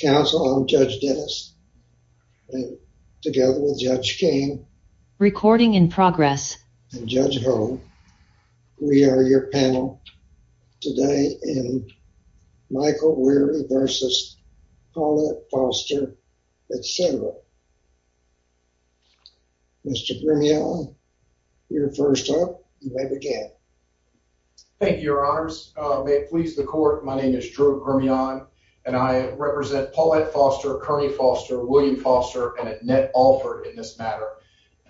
Counsel, I'm Judge Dennis, and together with Judge King, and Judge Hull, we are your panel today in Michael Wearry v. Paulette Foster, etc. Mr. Grumian, you're first up, and you may begin. Thank you, Your Honors. May it please the Court, my name is Drew Grumian, and I represent Paulette Foster, Kearney Foster, William Foster, and Annette Alford in this matter.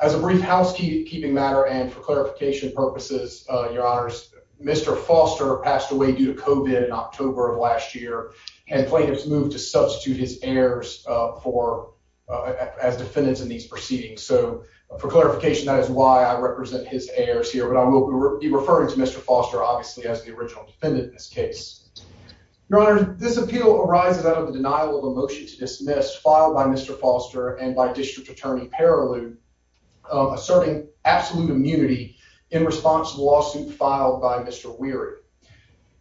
As a brief housekeeping matter, and for clarification purposes, Your Honors, Mr. Foster passed away due to COVID in October of last year, and plaintiffs moved to substitute his heirs as defendants in these proceedings. So for clarification, that is why I represent his heirs here, but I will be referring to defendant in this case. Your Honors, this appeal arises out of the denial of a motion to dismiss filed by Mr. Foster and by District Attorney Paroleau, asserting absolute immunity in response to the lawsuit filed by Mr. Wearry.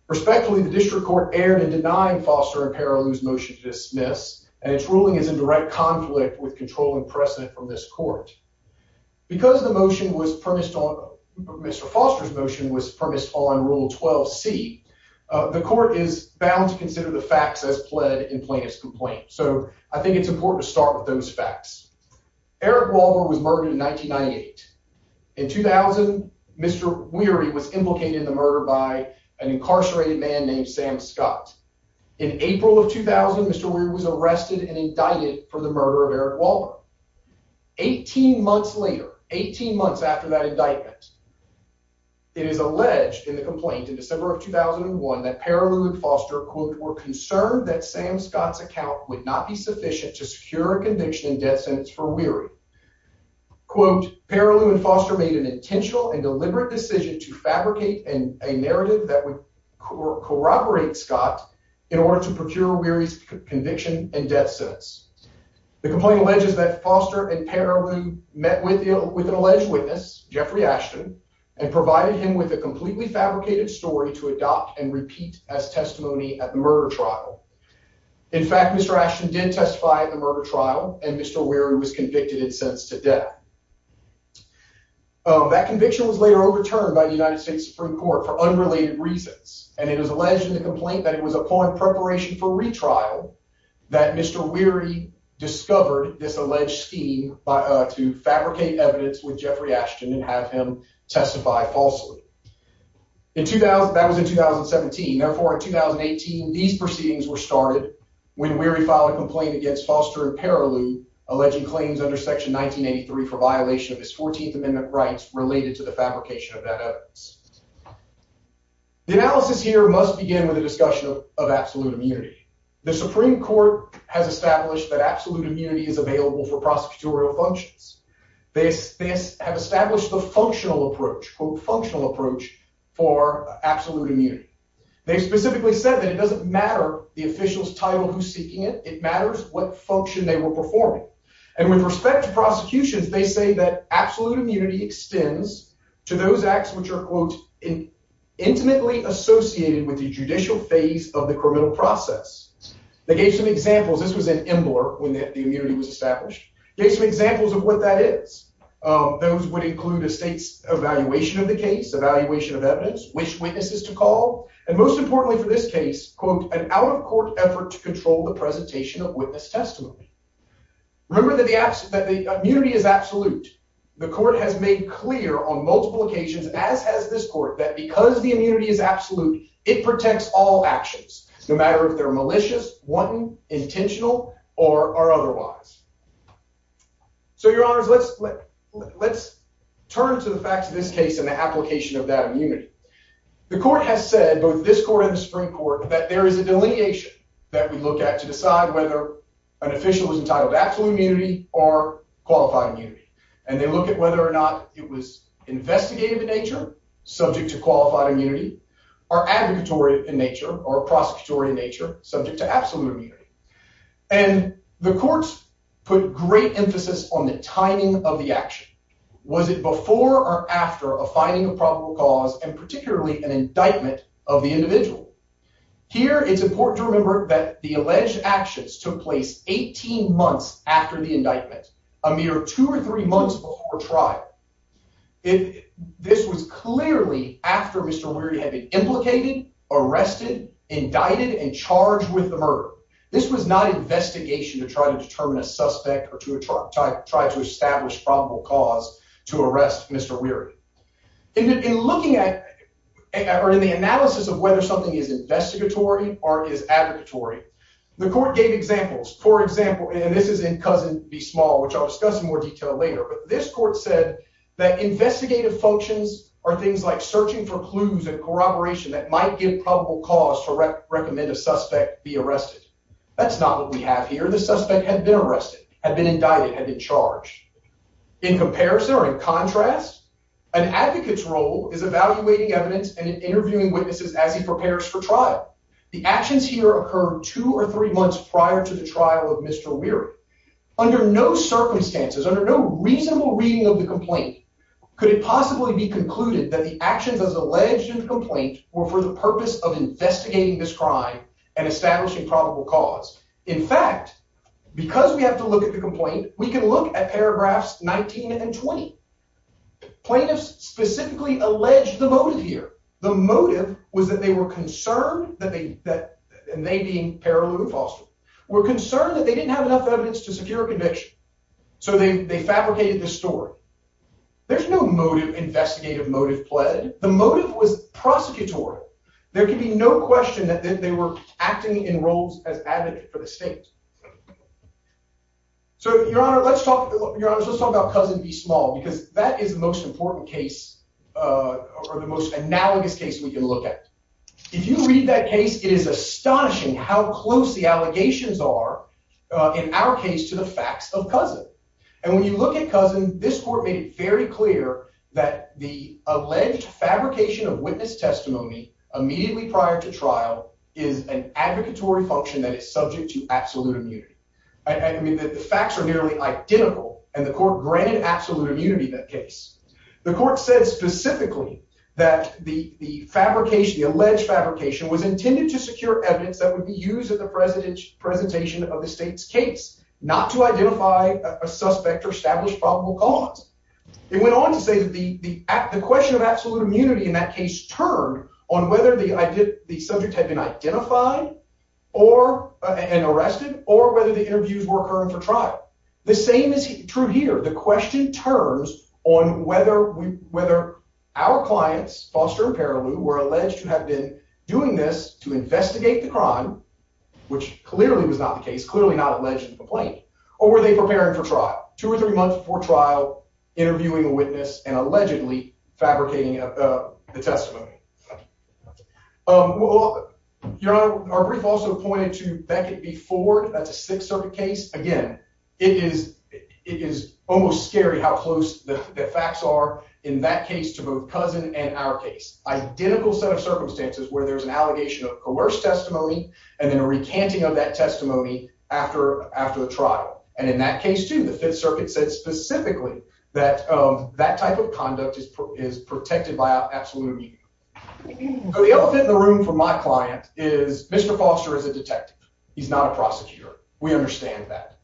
Respectfully, the District Court erred in denying Foster and Paroleau's motion to dismiss, and its ruling is in direct conflict with controlling precedent from this Court. Because the motion was premised on, Mr. Foster's motion was premised on Rule 12c, the Court is bound to consider the facts as pled in plaintiff's complaint. So I think it's important to start with those facts. Eric Walbur was murdered in 1998. In 2000, Mr. Weary was implicated in the murder by an incarcerated man named Sam Scott. In April of 2000, Mr. Weary was arrested and indicted for the murder of Eric Walbur. 18 months later, 18 months after that indictment, it is alleged in the complaint in December of 2001 that Paroleau and Foster, quote, were concerned that Sam Scott's account would not be sufficient to secure a conviction and death sentence for Weary. Quote, Paroleau and Foster made an intentional and deliberate decision to fabricate a narrative that would corroborate Scott in order to procure Weary's conviction and death sentence. The complaint alleges that Foster and Paroleau met with an alleged witness, Jeffrey Ashton, and provided him with a completely fabricated story to adopt and repeat as testimony at the murder trial. In fact, Mr. Ashton did testify at the murder trial, and Mr. Weary was convicted and sentenced to death. That conviction was later overturned by the United States Supreme Court for unrelated reasons, and it was alleged in the complaint that it was upon preparation for retrial that Mr. Weary discovered this alleged scheme to fabricate evidence with Jeffrey Ashton and have him testify falsely. That was in 2017. Therefore, in 2018, these proceedings were started when Weary filed a complaint against Foster and Paroleau alleging claims under Section 1983 for violation of his 14th Amendment rights related to the fabrication of that evidence. The analysis here must begin with a discussion of absolute immunity. The Supreme Court has established that absolute immunity is available for prosecutorial functions. They have established the functional approach, quote, functional approach, for absolute immunity. They specifically said that it doesn't matter the official's title who's seeking it. It matters what function they were performing. And with respect to prosecutions, they say that absolute immunity extends to those acts which are, quote, intimately associated with the judicial phase of the criminal process. They gave some examples. This was in Imler when the immunity was established. They gave some examples of what that is. Those would include a state's evaluation of the case, evaluation of evidence, which witnesses to call, and most importantly for this case, quote, an out-of-court effort to control the presentation of witness testimony. Remember that the immunity is absolute. The court has made clear on multiple occasions, as has this court, that because the immunity is absolute, it protects all actions, no matter if they're malicious, wanton, intentional, or otherwise. So, Your Honors, let's turn to the facts of this case and the application of that immunity. The court has said, both this court and the Supreme Court, that there is a delineation that we look at to decide whether an official is entitled to absolute immunity or qualified immunity. And they look at whether or not it was investigative in nature, subject to qualified immunity, or advocatory in nature, or prosecutory in nature, subject to absolute immunity. And the court put great emphasis on the timing of the action. Was it before or after a finding of probable cause, and particularly an indictment of the individual? Here, it's important to remember that the alleged actions took place 18 months after the indictment, a mere two or three months before trial. This was clearly after Mr. Weary had been implicated, arrested, indicted, and charged with the murder. This was not investigation to try to determine a suspect or to try to establish probable cause to arrest Mr. Weary. In looking at, or in the analysis of whether something is investigatory or is advocatory, the court gave examples. For example, and this is in Cousin v. Small, which I'll discuss in more detail later, but this court said that investigative functions are things like searching for clues and corroboration that might give probable cause to recommend a suspect be arrested. That's not what we have here. The suspect had been arrested, had been indicted, had been charged. In comparison, or in contrast, an advocate's role is evaluating evidence and interviewing witnesses as he prepares for trial. The actions here occurred two or three months prior to the trial of Mr. Weary. Under no circumstances, under no reasonable reading of the complaint, could it possibly be concluded that the actions as alleged in the complaint were for the purpose of investigating this crime and establishing probable cause? In fact, because we have to look at the complaint, we can look at paragraphs 19 and 20. Plaintiffs specifically alleged the motive here. The motive was that they were concerned that they, and they being Paraloo and Foster, were concerned that they didn't have enough evidence to secure a conviction. So they fabricated this story. There's no motive, investigative motive, pled. The motive was prosecutorial. There can be no question that they were acting in roles as advocate for the state. So Your Honor, let's talk about Cousin v. Small, because that is the most important case, or the most analogous case we can look at. If you read that case, it is astonishing how close the allegations are, in our case, to the facts of Cousin. And when you look at Cousin, this court made it very clear that the alleged fabrication of witness testimony immediately prior to trial is an advocatory function that is subject to absolute immunity. The facts are nearly identical, and the court granted absolute immunity in that case. The court said specifically that the fabrication, the alleged fabrication, was intended to secure evidence that would be used at the presentation of the state's case, not to identify a suspect or establish probable cause. It went on to say that the question of absolute immunity in that case turned on whether the subject had been identified and arrested, or whether the interviews were occurring for trial. The same is true here. The question turns on whether our clients, Foster and Perilou, were alleged to have been doing this to investigate the crime, which clearly was not the case, clearly not alleged in the complaint, or were they preparing for trial, two or three months before trial, interviewing a witness and allegedly fabricating the testimony. Your Honor, our brief also pointed to Beckett v. Ford. That's a Sixth Circuit case. Again, it is almost scary how close the facts are in that case to both Cousin and our case. Identical set of circumstances where there's an allegation of coerced testimony and then a recanting of that testimony after the trial. And in that case, too, the Fifth Circuit said specifically that that type of conduct is protected by absolute immunity. So the elephant in the room for my client is Mr. Foster is a detective. He's not a prosecutor. We understand that.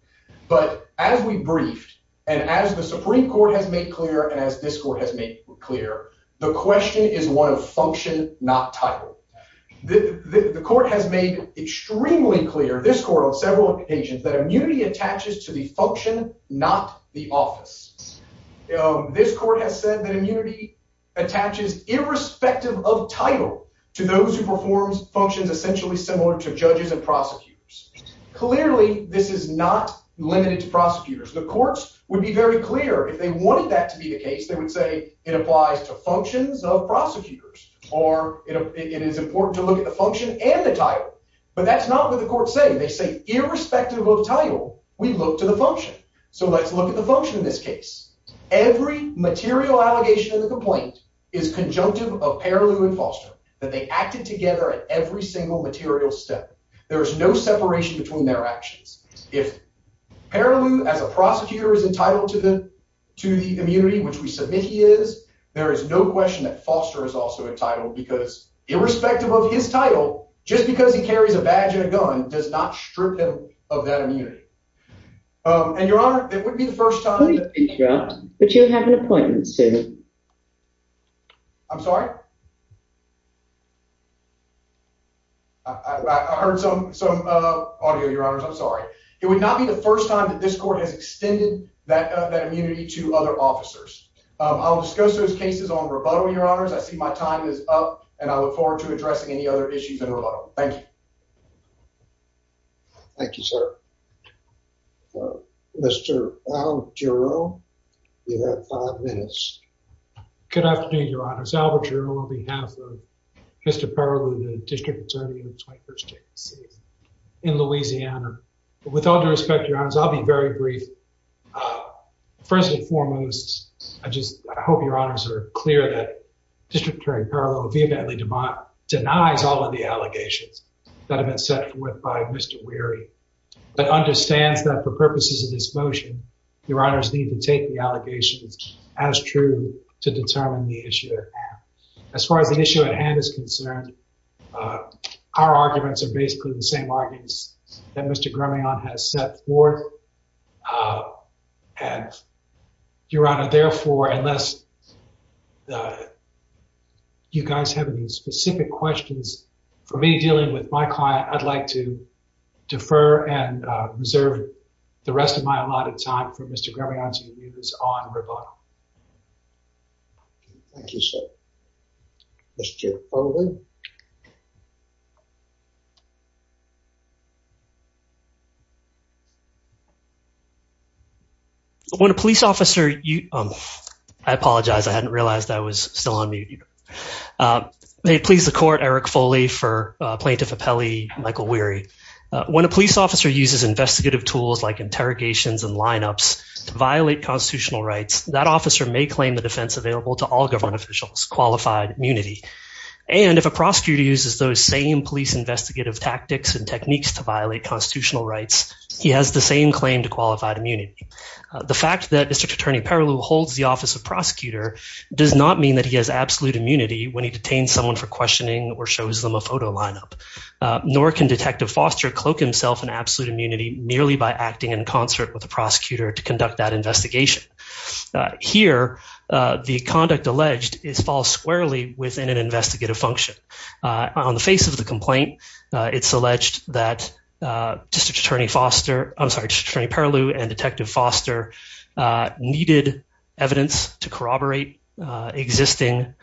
But as we briefed and as the Supreme Court has made clear and as this Court has made clear, the question is one of function, not title. The Court has made extremely clear, this Court on several occasions, that immunity attaches to the function, not the office. This Court has said that immunity attaches irrespective of title to those who perform functions essentially similar to judges and prosecutors. Clearly, this is not limited to prosecutors. The courts would be very clear if they wanted that to be the case. They would say it applies to functions of prosecutors or it is important to look at the function and the title. But that's not what the courts say. They say irrespective of title, we look to the function. So let's look at the function in this case. Every material allegation in the complaint is conjunctive of Parolew and Foster, that they acted together at every single material step. There is no separation between their actions. If Parolew, as a prosecutor, is entitled to the immunity, which we submit he is, there is no question that Foster is also entitled because irrespective of his title, just because he carries a badge and a gun does not strip him of that immunity. And Your Honor, it wouldn't be the first time that- Please interrupt, but you have an appointment soon. I'm sorry? I heard some audio, Your Honors. I'm sorry. It would not be the first time that this court has extended that immunity to other officers. I'll discuss those cases on rebuttal, Your Honors. I see my time is up and I look forward to addressing any other issues in rebuttal. Thank you. Thank you, sir. Mr. Al Giroux, you have five minutes. Good afternoon, Your Honors. Al Giroux on behalf of Mr. Parolew, the District Attorney of the 21st State of Louisiana. With all due respect, Your Honors, I'll be very brief. First and foremost, I just hope Your Honors are clear that District Attorney Parolew vehemently denies all of the allegations that have been set forth by Mr. Weary, but understands that for purposes of this motion, Your Honors need to take the allegations as true to determine the issue at hand. As far as the issue at hand is concerned, our arguments are basically the same arguments that Mr. Grameon has set forth. And Your Honor, therefore, unless you guys have any specific questions for me dealing with my client, I'd like to defer and reserve the rest of my allotted time for Mr. Grameon's reviews on rebuttal. Thank you, sir. Mr. Foley. When a police officer, I apologize, I hadn't realized I was still on mute. May it please the court, Eric Foley for Plaintiff Apelli, Michael Weary. When a police officer uses investigative tools like interrogations and lineups to violate constitutional rights, that officer may claim the defense available to all government officials, qualified immunity. And if a prosecutor uses those same police investigative tactics and techniques to violate constitutional rights, he has the same claim to qualified immunity. The fact that District Attorney Parolew holds the office of prosecutor does not mean that he has absolute immunity when he detains someone for questioning or shows them a photo lineup, nor can Detective Foster cloak himself in absolute immunity merely by acting in concert with the prosecutor to conduct that investigation. Here, the conduct alleged is false squarely within an investigative function. On the face of the complaint, it's alleged that District Attorney Foster, I'm sorry, District Attorney Parolew and Detective Foster needed evidence to corroborate existing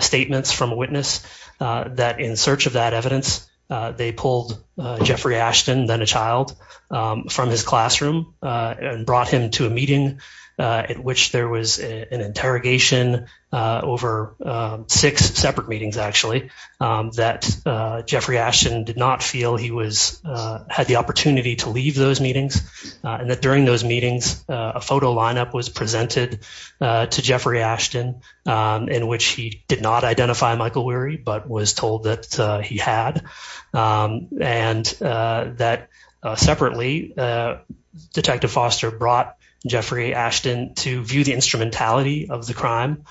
statements from a witness that in search of that evidence, they pulled Jeffrey Ashton, then a child, from his classroom and brought him to a meeting at which there was an interrogation over six separate meetings, actually, that Jeffrey Ashton did not feel he was had the opportunity to leave those meetings and that during those meetings, a photo lineup was presented to Jeffrey Ashton in which he did not identify Michael Weary, but was told that he had. And that separately, Detective Foster brought Jeffrey Ashton to view the instrumentality of the crime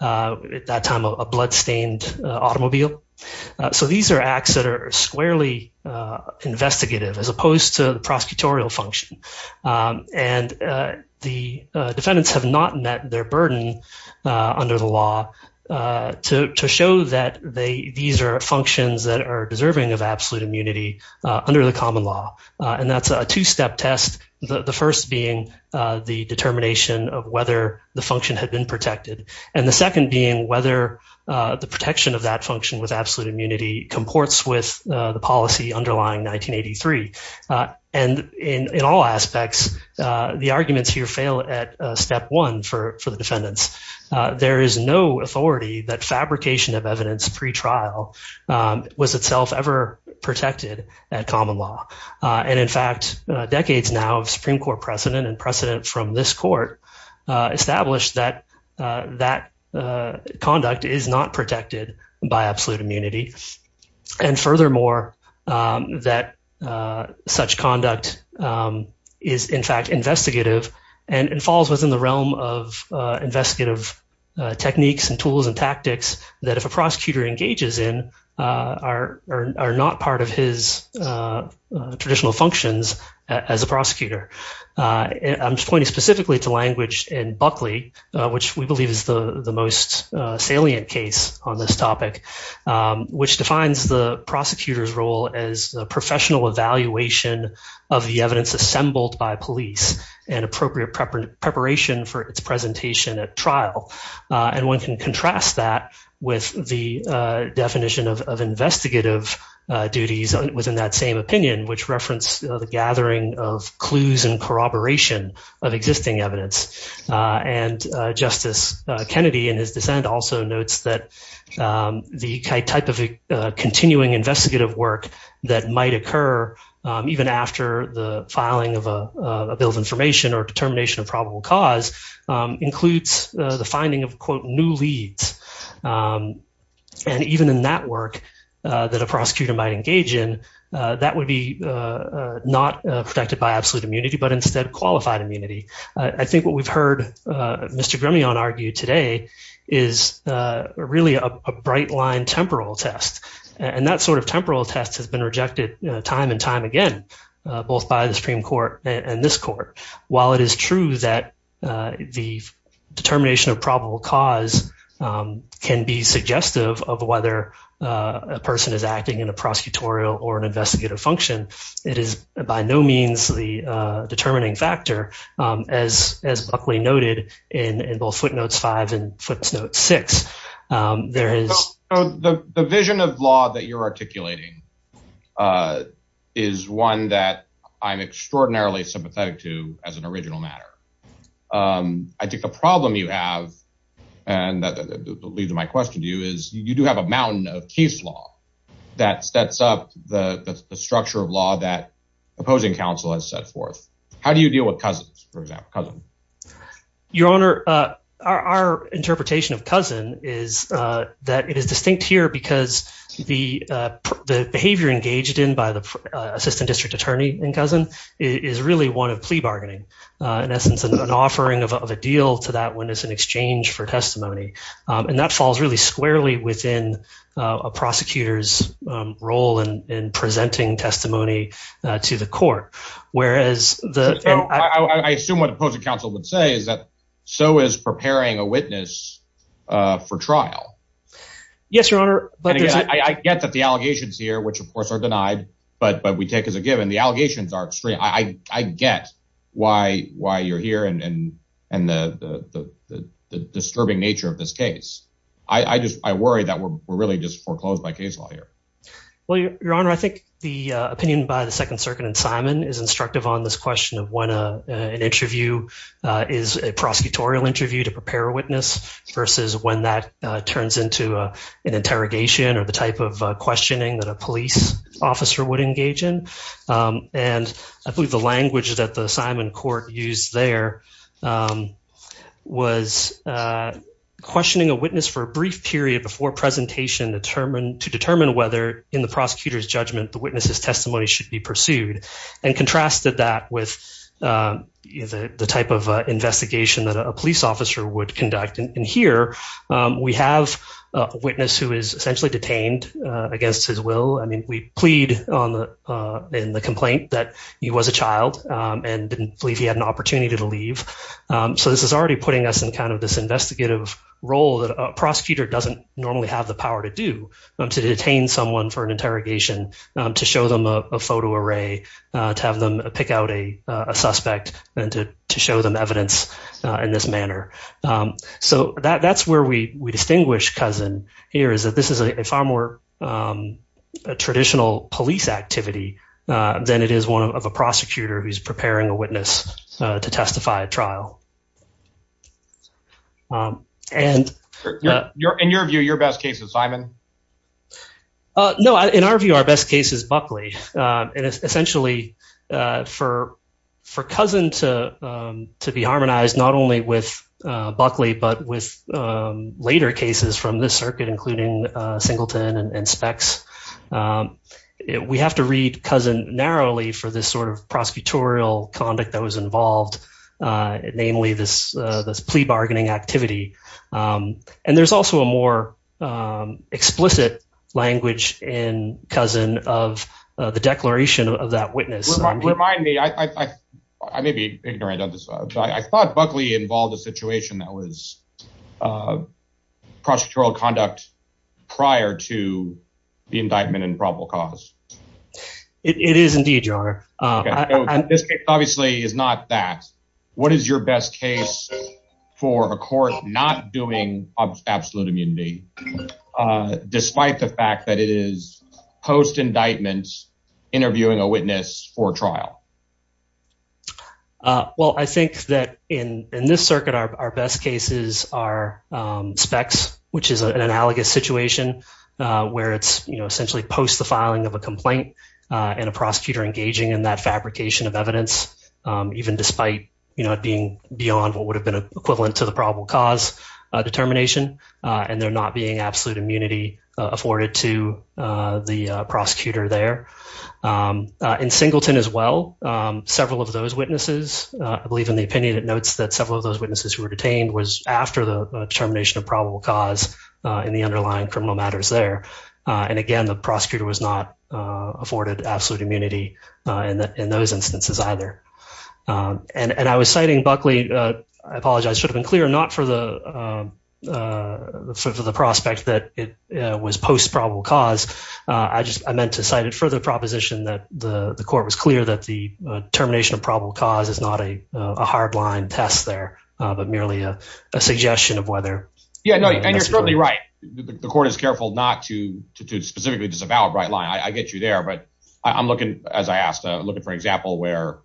at that time, a bloodstained automobile. So these are acts that are squarely investigative as opposed to the prosecutorial function. And the defendants have not met their burden under the law to show that these are functions that are deserving of absolute immunity under the common law. And that's a two-step test. The first being the determination of whether the function had been protected. And the second being whether the protection of that function with absolute immunity comports with the policy underlying 1983. And in all aspects, the arguments here fail at step one for the defendants. There is no authority that fabrication of evidence pre-trial was itself ever protected at common law. And in fact, decades now of Supreme Court precedent and precedent from this court established that that conduct is not protected by absolute immunity. And furthermore, that such conduct is in fact investigative and falls within the realm of investigative techniques and tools and tactics that if a prosecutor engages in are not part of his traditional functions as a prosecutor. I'm pointing specifically to language in Buckley, which we believe is the most salient case on this evidence assembled by police and appropriate preparation for its presentation at trial. And one can contrast that with the definition of investigative duties within that same opinion, which referenced the gathering of clues and corroboration of existing evidence. And Justice Kennedy in his dissent also notes that the type of continuing investigative work that might occur even after the filing of a bill of information or determination of probable cause includes the finding of quote new leads. And even in that work that a prosecutor might engage in, that would be not protected by absolute immunity, but instead qualified immunity. I think what we've heard Mr. Gremion argue today is really a bright line temporal test. And that sort of temporal test has been rejected time and time again, both by the Supreme Court and this court. While it is true that the determination of probable cause can be suggestive of whether a person is acting in a prosecutorial or an investigative function, it is by no means the determining factor as Buckley noted in both footnotes five and footnotes six. There is the vision of law that you're articulating is one that I'm extraordinarily sympathetic to as an original matter. I think the problem you have, and that leads to my question to you is you do have a mountain of case law that sets up the structure of law that opposing counsel has set forth. How do you deal with cousins, for example, cousin? Your Honor, our interpretation of cousin is that it is distinct here because the behavior engaged in by the assistant district attorney and cousin is really one of plea bargaining. In essence, an offering of a deal to that witness in exchange for testimony. And that falls really squarely within a prosecutor's role in presenting testimony to the court. Whereas the- So is preparing a witness for trial. Yes, Your Honor. I get that the allegations here, which of course are denied, but we take as a given, the allegations are extreme. I get why you're here and the disturbing nature of this case. I worry that we're really just foreclosed by case law here. Well, Your Honor, I think the opinion by the Second Circuit and Simon is instructive on this question of when an interview is a prosecutorial interview to prepare a witness versus when that turns into an interrogation or the type of questioning that a police officer would engage in. And I believe the language that the Simon court used there was questioning a witness for a brief period before presentation to determine whether in prosecutor's judgment the witness's testimony should be pursued and contrasted that with the type of investigation that a police officer would conduct. And here we have a witness who is essentially detained against his will. I mean, we plead in the complaint that he was a child and didn't believe he had an opportunity to leave. So this is already putting us in kind of this investigative role that a prosecutor doesn't normally have the power to do to detain someone for an interrogation, to show them a photo array, to have them pick out a suspect and to show them evidence in this manner. So that's where we distinguish Cousin here is that this is a far more traditional police activity than it is one of a prosecutor who's preparing a witness to testify at trial. In your view, your best case is Simon? No, in our view, our best case is Buckley. And essentially for Cousin to be harmonized not only with Buckley, but with later cases from this circuit, including Singleton and Spex, we have to read Cousin narrowly for this sort of prosecutorial conduct that was involved, namely this plea bargaining activity. And there's also a more explicit language in Cousin of the declaration of that witness. Remind me, I may be ignorant on this, but I thought Buckley involved a situation that was prosecutorial conduct prior to the indictment and probable cause. It is indeed, your honor. This case obviously is not that. What is your best case for a court not doing absolute immunity, despite the fact that it is post-indictment interviewing a witness for trial? Well, I think that in this circuit, our best cases are Spex, which is an analogous situation where it's essentially post the filing of a complaint and a prosecutor engaging in that fabrication of evidence, even despite it being beyond what would have been equivalent to the probable cause determination. And there not being absolute immunity afforded to the prosecutor there. In Singleton as well, several of those witnesses, I believe in the opinion it notes that several of those witnesses who were detained was after the determination of probable cause in the underlying criminal matters there. And again, the prosecutor was not afforded absolute immunity in those instances either. And I was citing Buckley, I apologize, should have been not for the prospect that it was post probable cause. I just, I meant to cite it for the proposition that the court was clear that the termination of probable cause is not a hard line test there, but merely a suggestion of whether. Yeah, no, and you're certainly right. The court is careful not to specifically disavow a bright line. I get you there, but I'm looking, as I asked, looking for an example where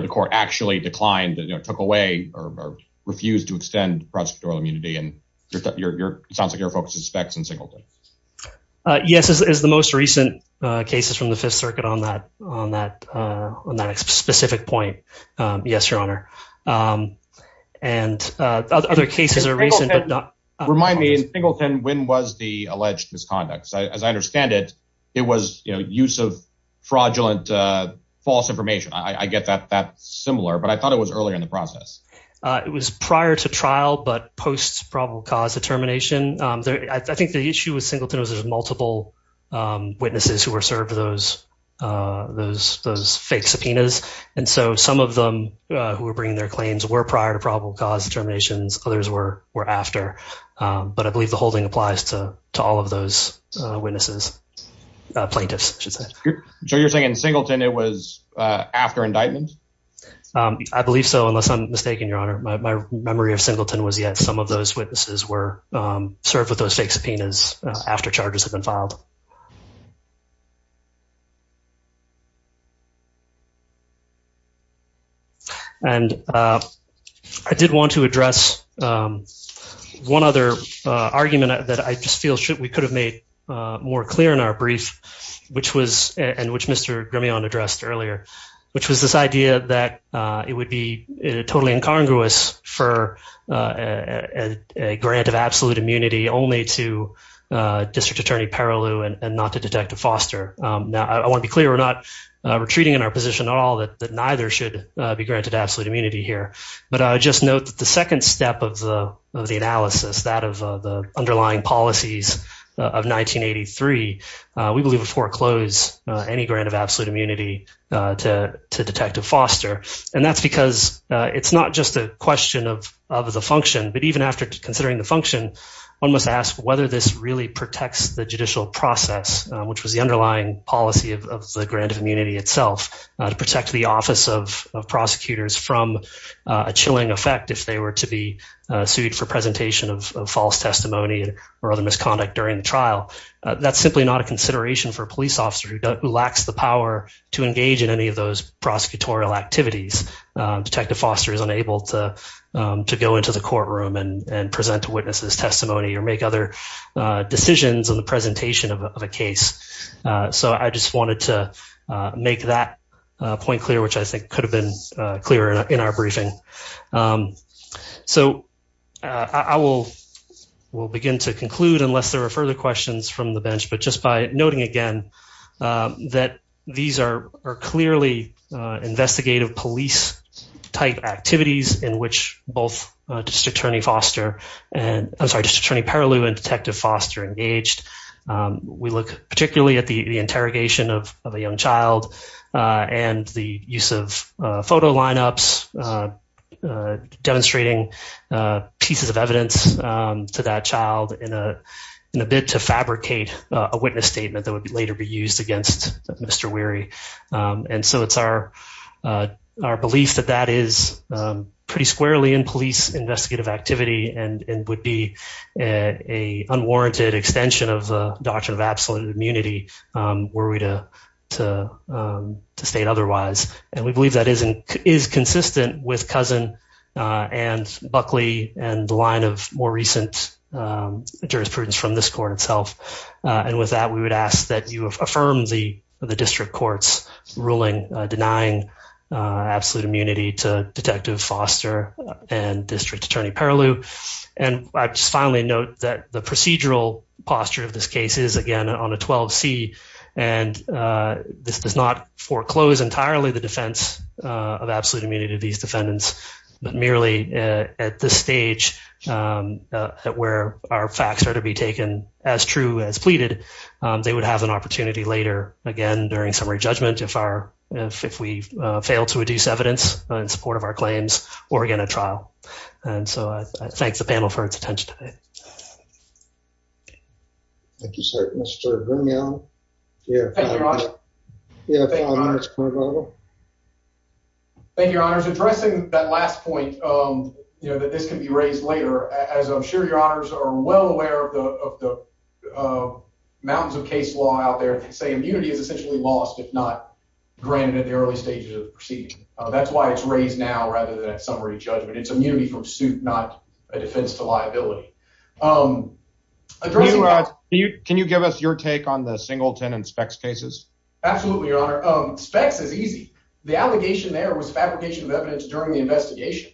the court actually declined, took away or refused to extend prosecutorial immunity. And it sounds like your focus is specs in Singleton. Yes, it's the most recent cases from the fifth circuit on that specific point. Yes, your honor. And other cases are recent. Remind me in Singleton, when was the alleged misconduct? As I understand it, it was, you know, use of fraudulent false information. I get that that's similar, but I thought it was earlier in the process. It was prior to trial, but post probable cause determination. I think the issue with Singleton was there's multiple witnesses who were served those fake subpoenas. And so some of them who were bringing their claims were prior to probable cause determinations. Others were after, but I believe the holding applies to all of those witnesses plaintiffs. So you're saying in Singleton it was after indictment? I believe so, unless I'm mistaken, your honor. My memory of Singleton was yet some of those witnesses were served with those fake subpoenas after charges have been filed. And I did want to address one other argument that I just feel we could have made more clear in our brief, which was, and which Mr. Grameon addressed earlier, which was this idea that it would be totally incongruous for a grant of absolute immunity only to District Attorney Paroleau and not to Detective Foster. Now, I want to be clear, we're not retreating in our position at all that neither should be granted absolute immunity here. But I step of the analysis, that of the underlying policies of 1983, we believe would foreclose any grant of absolute immunity to Detective Foster. And that's because it's not just a question of the function, but even after considering the function, one must ask whether this really protects the judicial process, which was the underlying policy of the grant of immunity itself, to protect the Office of Prosecutors from a chilling effect if they were to be sued for presentation of false testimony or other misconduct during the trial. That's simply not a consideration for a police officer who lacks the power to engage in any of those prosecutorial activities. Detective Foster is unable to go into the courtroom and present a witness's testimony or make other decisions on the presentation of a case. So I just wanted to make that point clear, which I think could have been clearer in our briefing. So I will begin to conclude unless there are further questions from the bench, but just by noting again that these are clearly investigative police-type activities in which both District Attorney Foster and, I'm sorry, District Attorney Perlew and Detective Foster engaged. We look particularly at the interrogation of a young child and the use of photo lineups demonstrating pieces of evidence to that child in a bid to fabricate a witness statement that would later be used against Mr. Weary. And so it's our belief that that is pretty squarely in police investigative activity and would be an unwarranted extension of the doctrine of absolute immunity were we to state otherwise. And we believe that is consistent with Cousin and Buckley and the line of more recent jurisprudence from this court itself. And with that, we would ask that you affirm the District Court's ruling denying absolute immunity to Detective Foster and District Attorney Perlew. And I just finally note that the procedural posture of this case is, again, on a 12C, and this does not foreclose entirely the defense of absolute immunity to these defendants, but merely at this stage where our facts are to be taken as true as pleaded, they would have an opportunity later, again, during summary judgment if we fail to reduce evidence in support of our claims or, again, at trial. And so I thank the panel for its attention today. Thank you, sir. Mr. Grinnell? Thank you, Your Honors. Thank you, Your Honors. Addressing that last point that this can be raised later, as I'm sure Your Honors are well aware of the mountains of case law out there that say immunity is essentially lost if not granted at the early stages of the proceeding. That's why it's raised now rather than at summary judgment. It's immunity from suit, not a defense to liability. Can you give us your take on the Singleton and Spex cases? Absolutely, Your Honor. Spex is easy. The allegation there was fabrication of evidence during the investigation.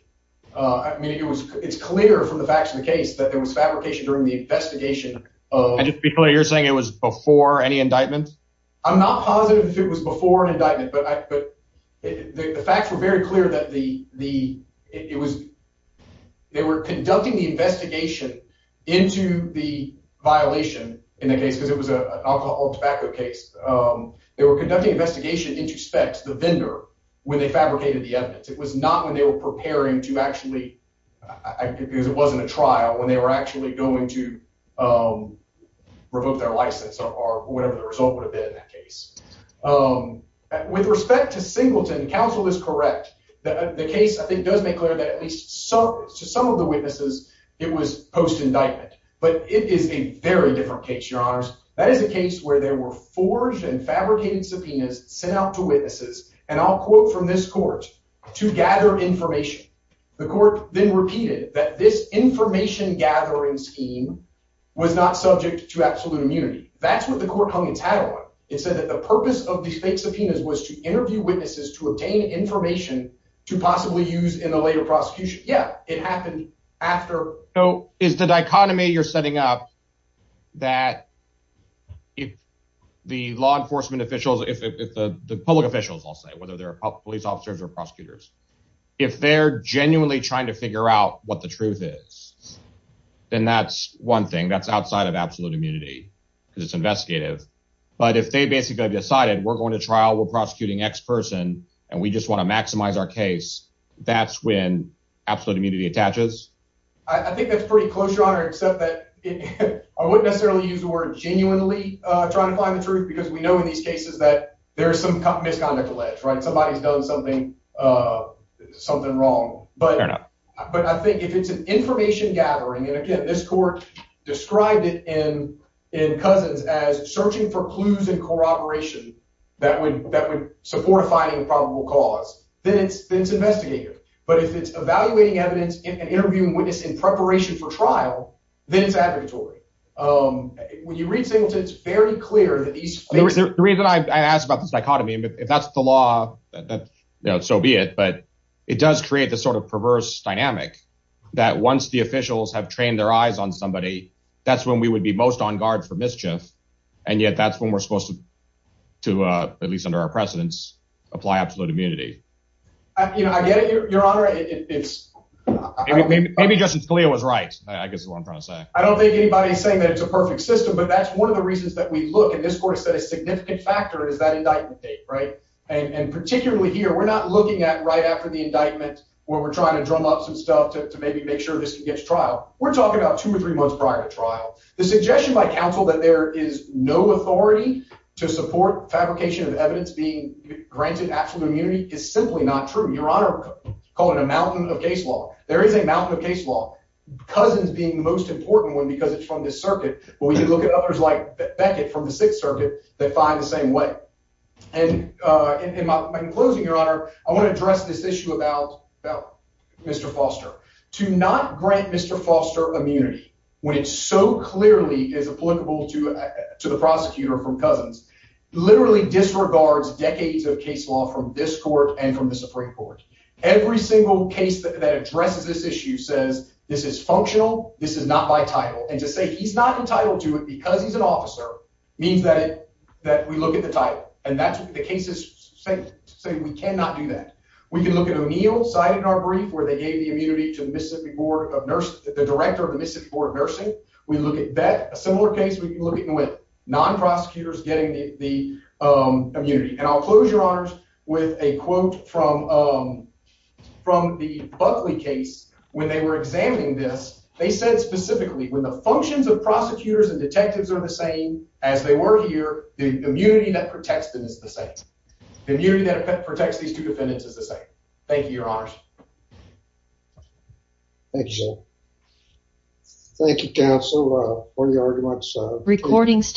I mean, it's clear from the facts of the case that there was fabrication during the investigation. And just to be clear, you're saying it was before any indictment? I'm not positive if it was before an indictment, but the facts were very clear that they were conducting the investigation into the violation in the case because it was an alcohol tobacco case. They were conducting investigation into Spex, the vendor, when they fabricated the evidence. It was not when they were preparing to actually, because it wasn't a trial, when they were actually going to revoke their license or whatever the result would have been in that case. With respect to Singleton, counsel is correct. The case, I think, does make clear that at least to some of the witnesses, it was post-indictment. But it is a very different case, Your Honors. That is a case where there were forged and fabricated subpoenas sent out to witnesses, and I'll quote from this court, to gather information. The court then repeated that this information gathering scheme was not subject to absolute immunity. That's what the court hung its hat on. It said that the purpose of these fake subpoenas was to interview witnesses to obtain information to possibly use in a later prosecution. Yeah, it happened after. So is the dichotomy you're setting up that if the law enforcement officials, if the public officials, I'll say, whether they're police officers or prosecutors, if they're genuinely trying to figure out what the truth is, then that's one thing. That's outside of absolute immunity because it's investigative. But if they basically decided we're going to trial, we're prosecuting X person, and we just want to maximize our case, that's when absolute immunity attaches. I think that's pretty close, Your Honor, except that I wouldn't necessarily use the word genuinely trying to find the truth because we know in these cases that there's some misconduct alleged. Somebody's done something wrong. But I think if it's an information gathering, and again, this court described it in Cousins as searching for clues and corroboration that would support a finding of probable cause, then it's investigative. But if it's evaluating evidence and interviewing witnesses in preparation for trial, then it's advocatory. When you read Singleton, it's very clear that he's- The reason I asked about the dichotomy, if that's the law, so be it. But it does create this sort of perverse dynamic that once the officials have trained their eyes on somebody, that's when we would be most on guard for mischief. And yet that's when we're supposed to, at least under our precedence, apply absolute immunity. I get it, Your Honor. It's- Maybe Justice Scalia was right, I guess is what I'm trying to say. I don't think anybody's saying that it's a perfect system, but that's one of the reasons that we look, and this court said a significant factor is that indictment date, right? And particularly here, we're not looking at right after the indictment where we're trying to drum up some stuff to maybe make sure this can get to trial. We're talking about two or three months prior to trial. The suggestion by counsel that there is no authority to support fabrication of evidence being granted absolute immunity is simply not true. Your Honor, call it a mountain of case law. There is a mountain of case law, Cousins being the most important one because it's from this circuit. But when you look at others like Beckett from the Sixth Circuit, they find the same way. And in closing, Your Honor, I want to address this issue about Mr. Foster. To not grant Mr. Foster immunity when it so clearly is applicable to the prosecutor from Cousins literally disregards decades of case law from this court and from the Supreme Court. Every single case that addresses this issue says this is functional, this is not by title, and to say he's not entitled to it because he's an officer means that we look at the title, and that's what the cases say. We cannot do that. We can look at O'Neill's side in our brief where they gave the immunity to the Mississippi Board of Nursing, the director of the Mississippi Board of Nursing, non-prosecutors getting the immunity. And I'll close, Your Honors, with a quote from the Buckley case when they were examining this. They said specifically when the functions of prosecutors and detectives are the same as they were here, the immunity that protects them is the same. The immunity that protects these two defendants is the same. Thank you, Your Honors. Thank you, sir. Thank you, counsel, for the arguments.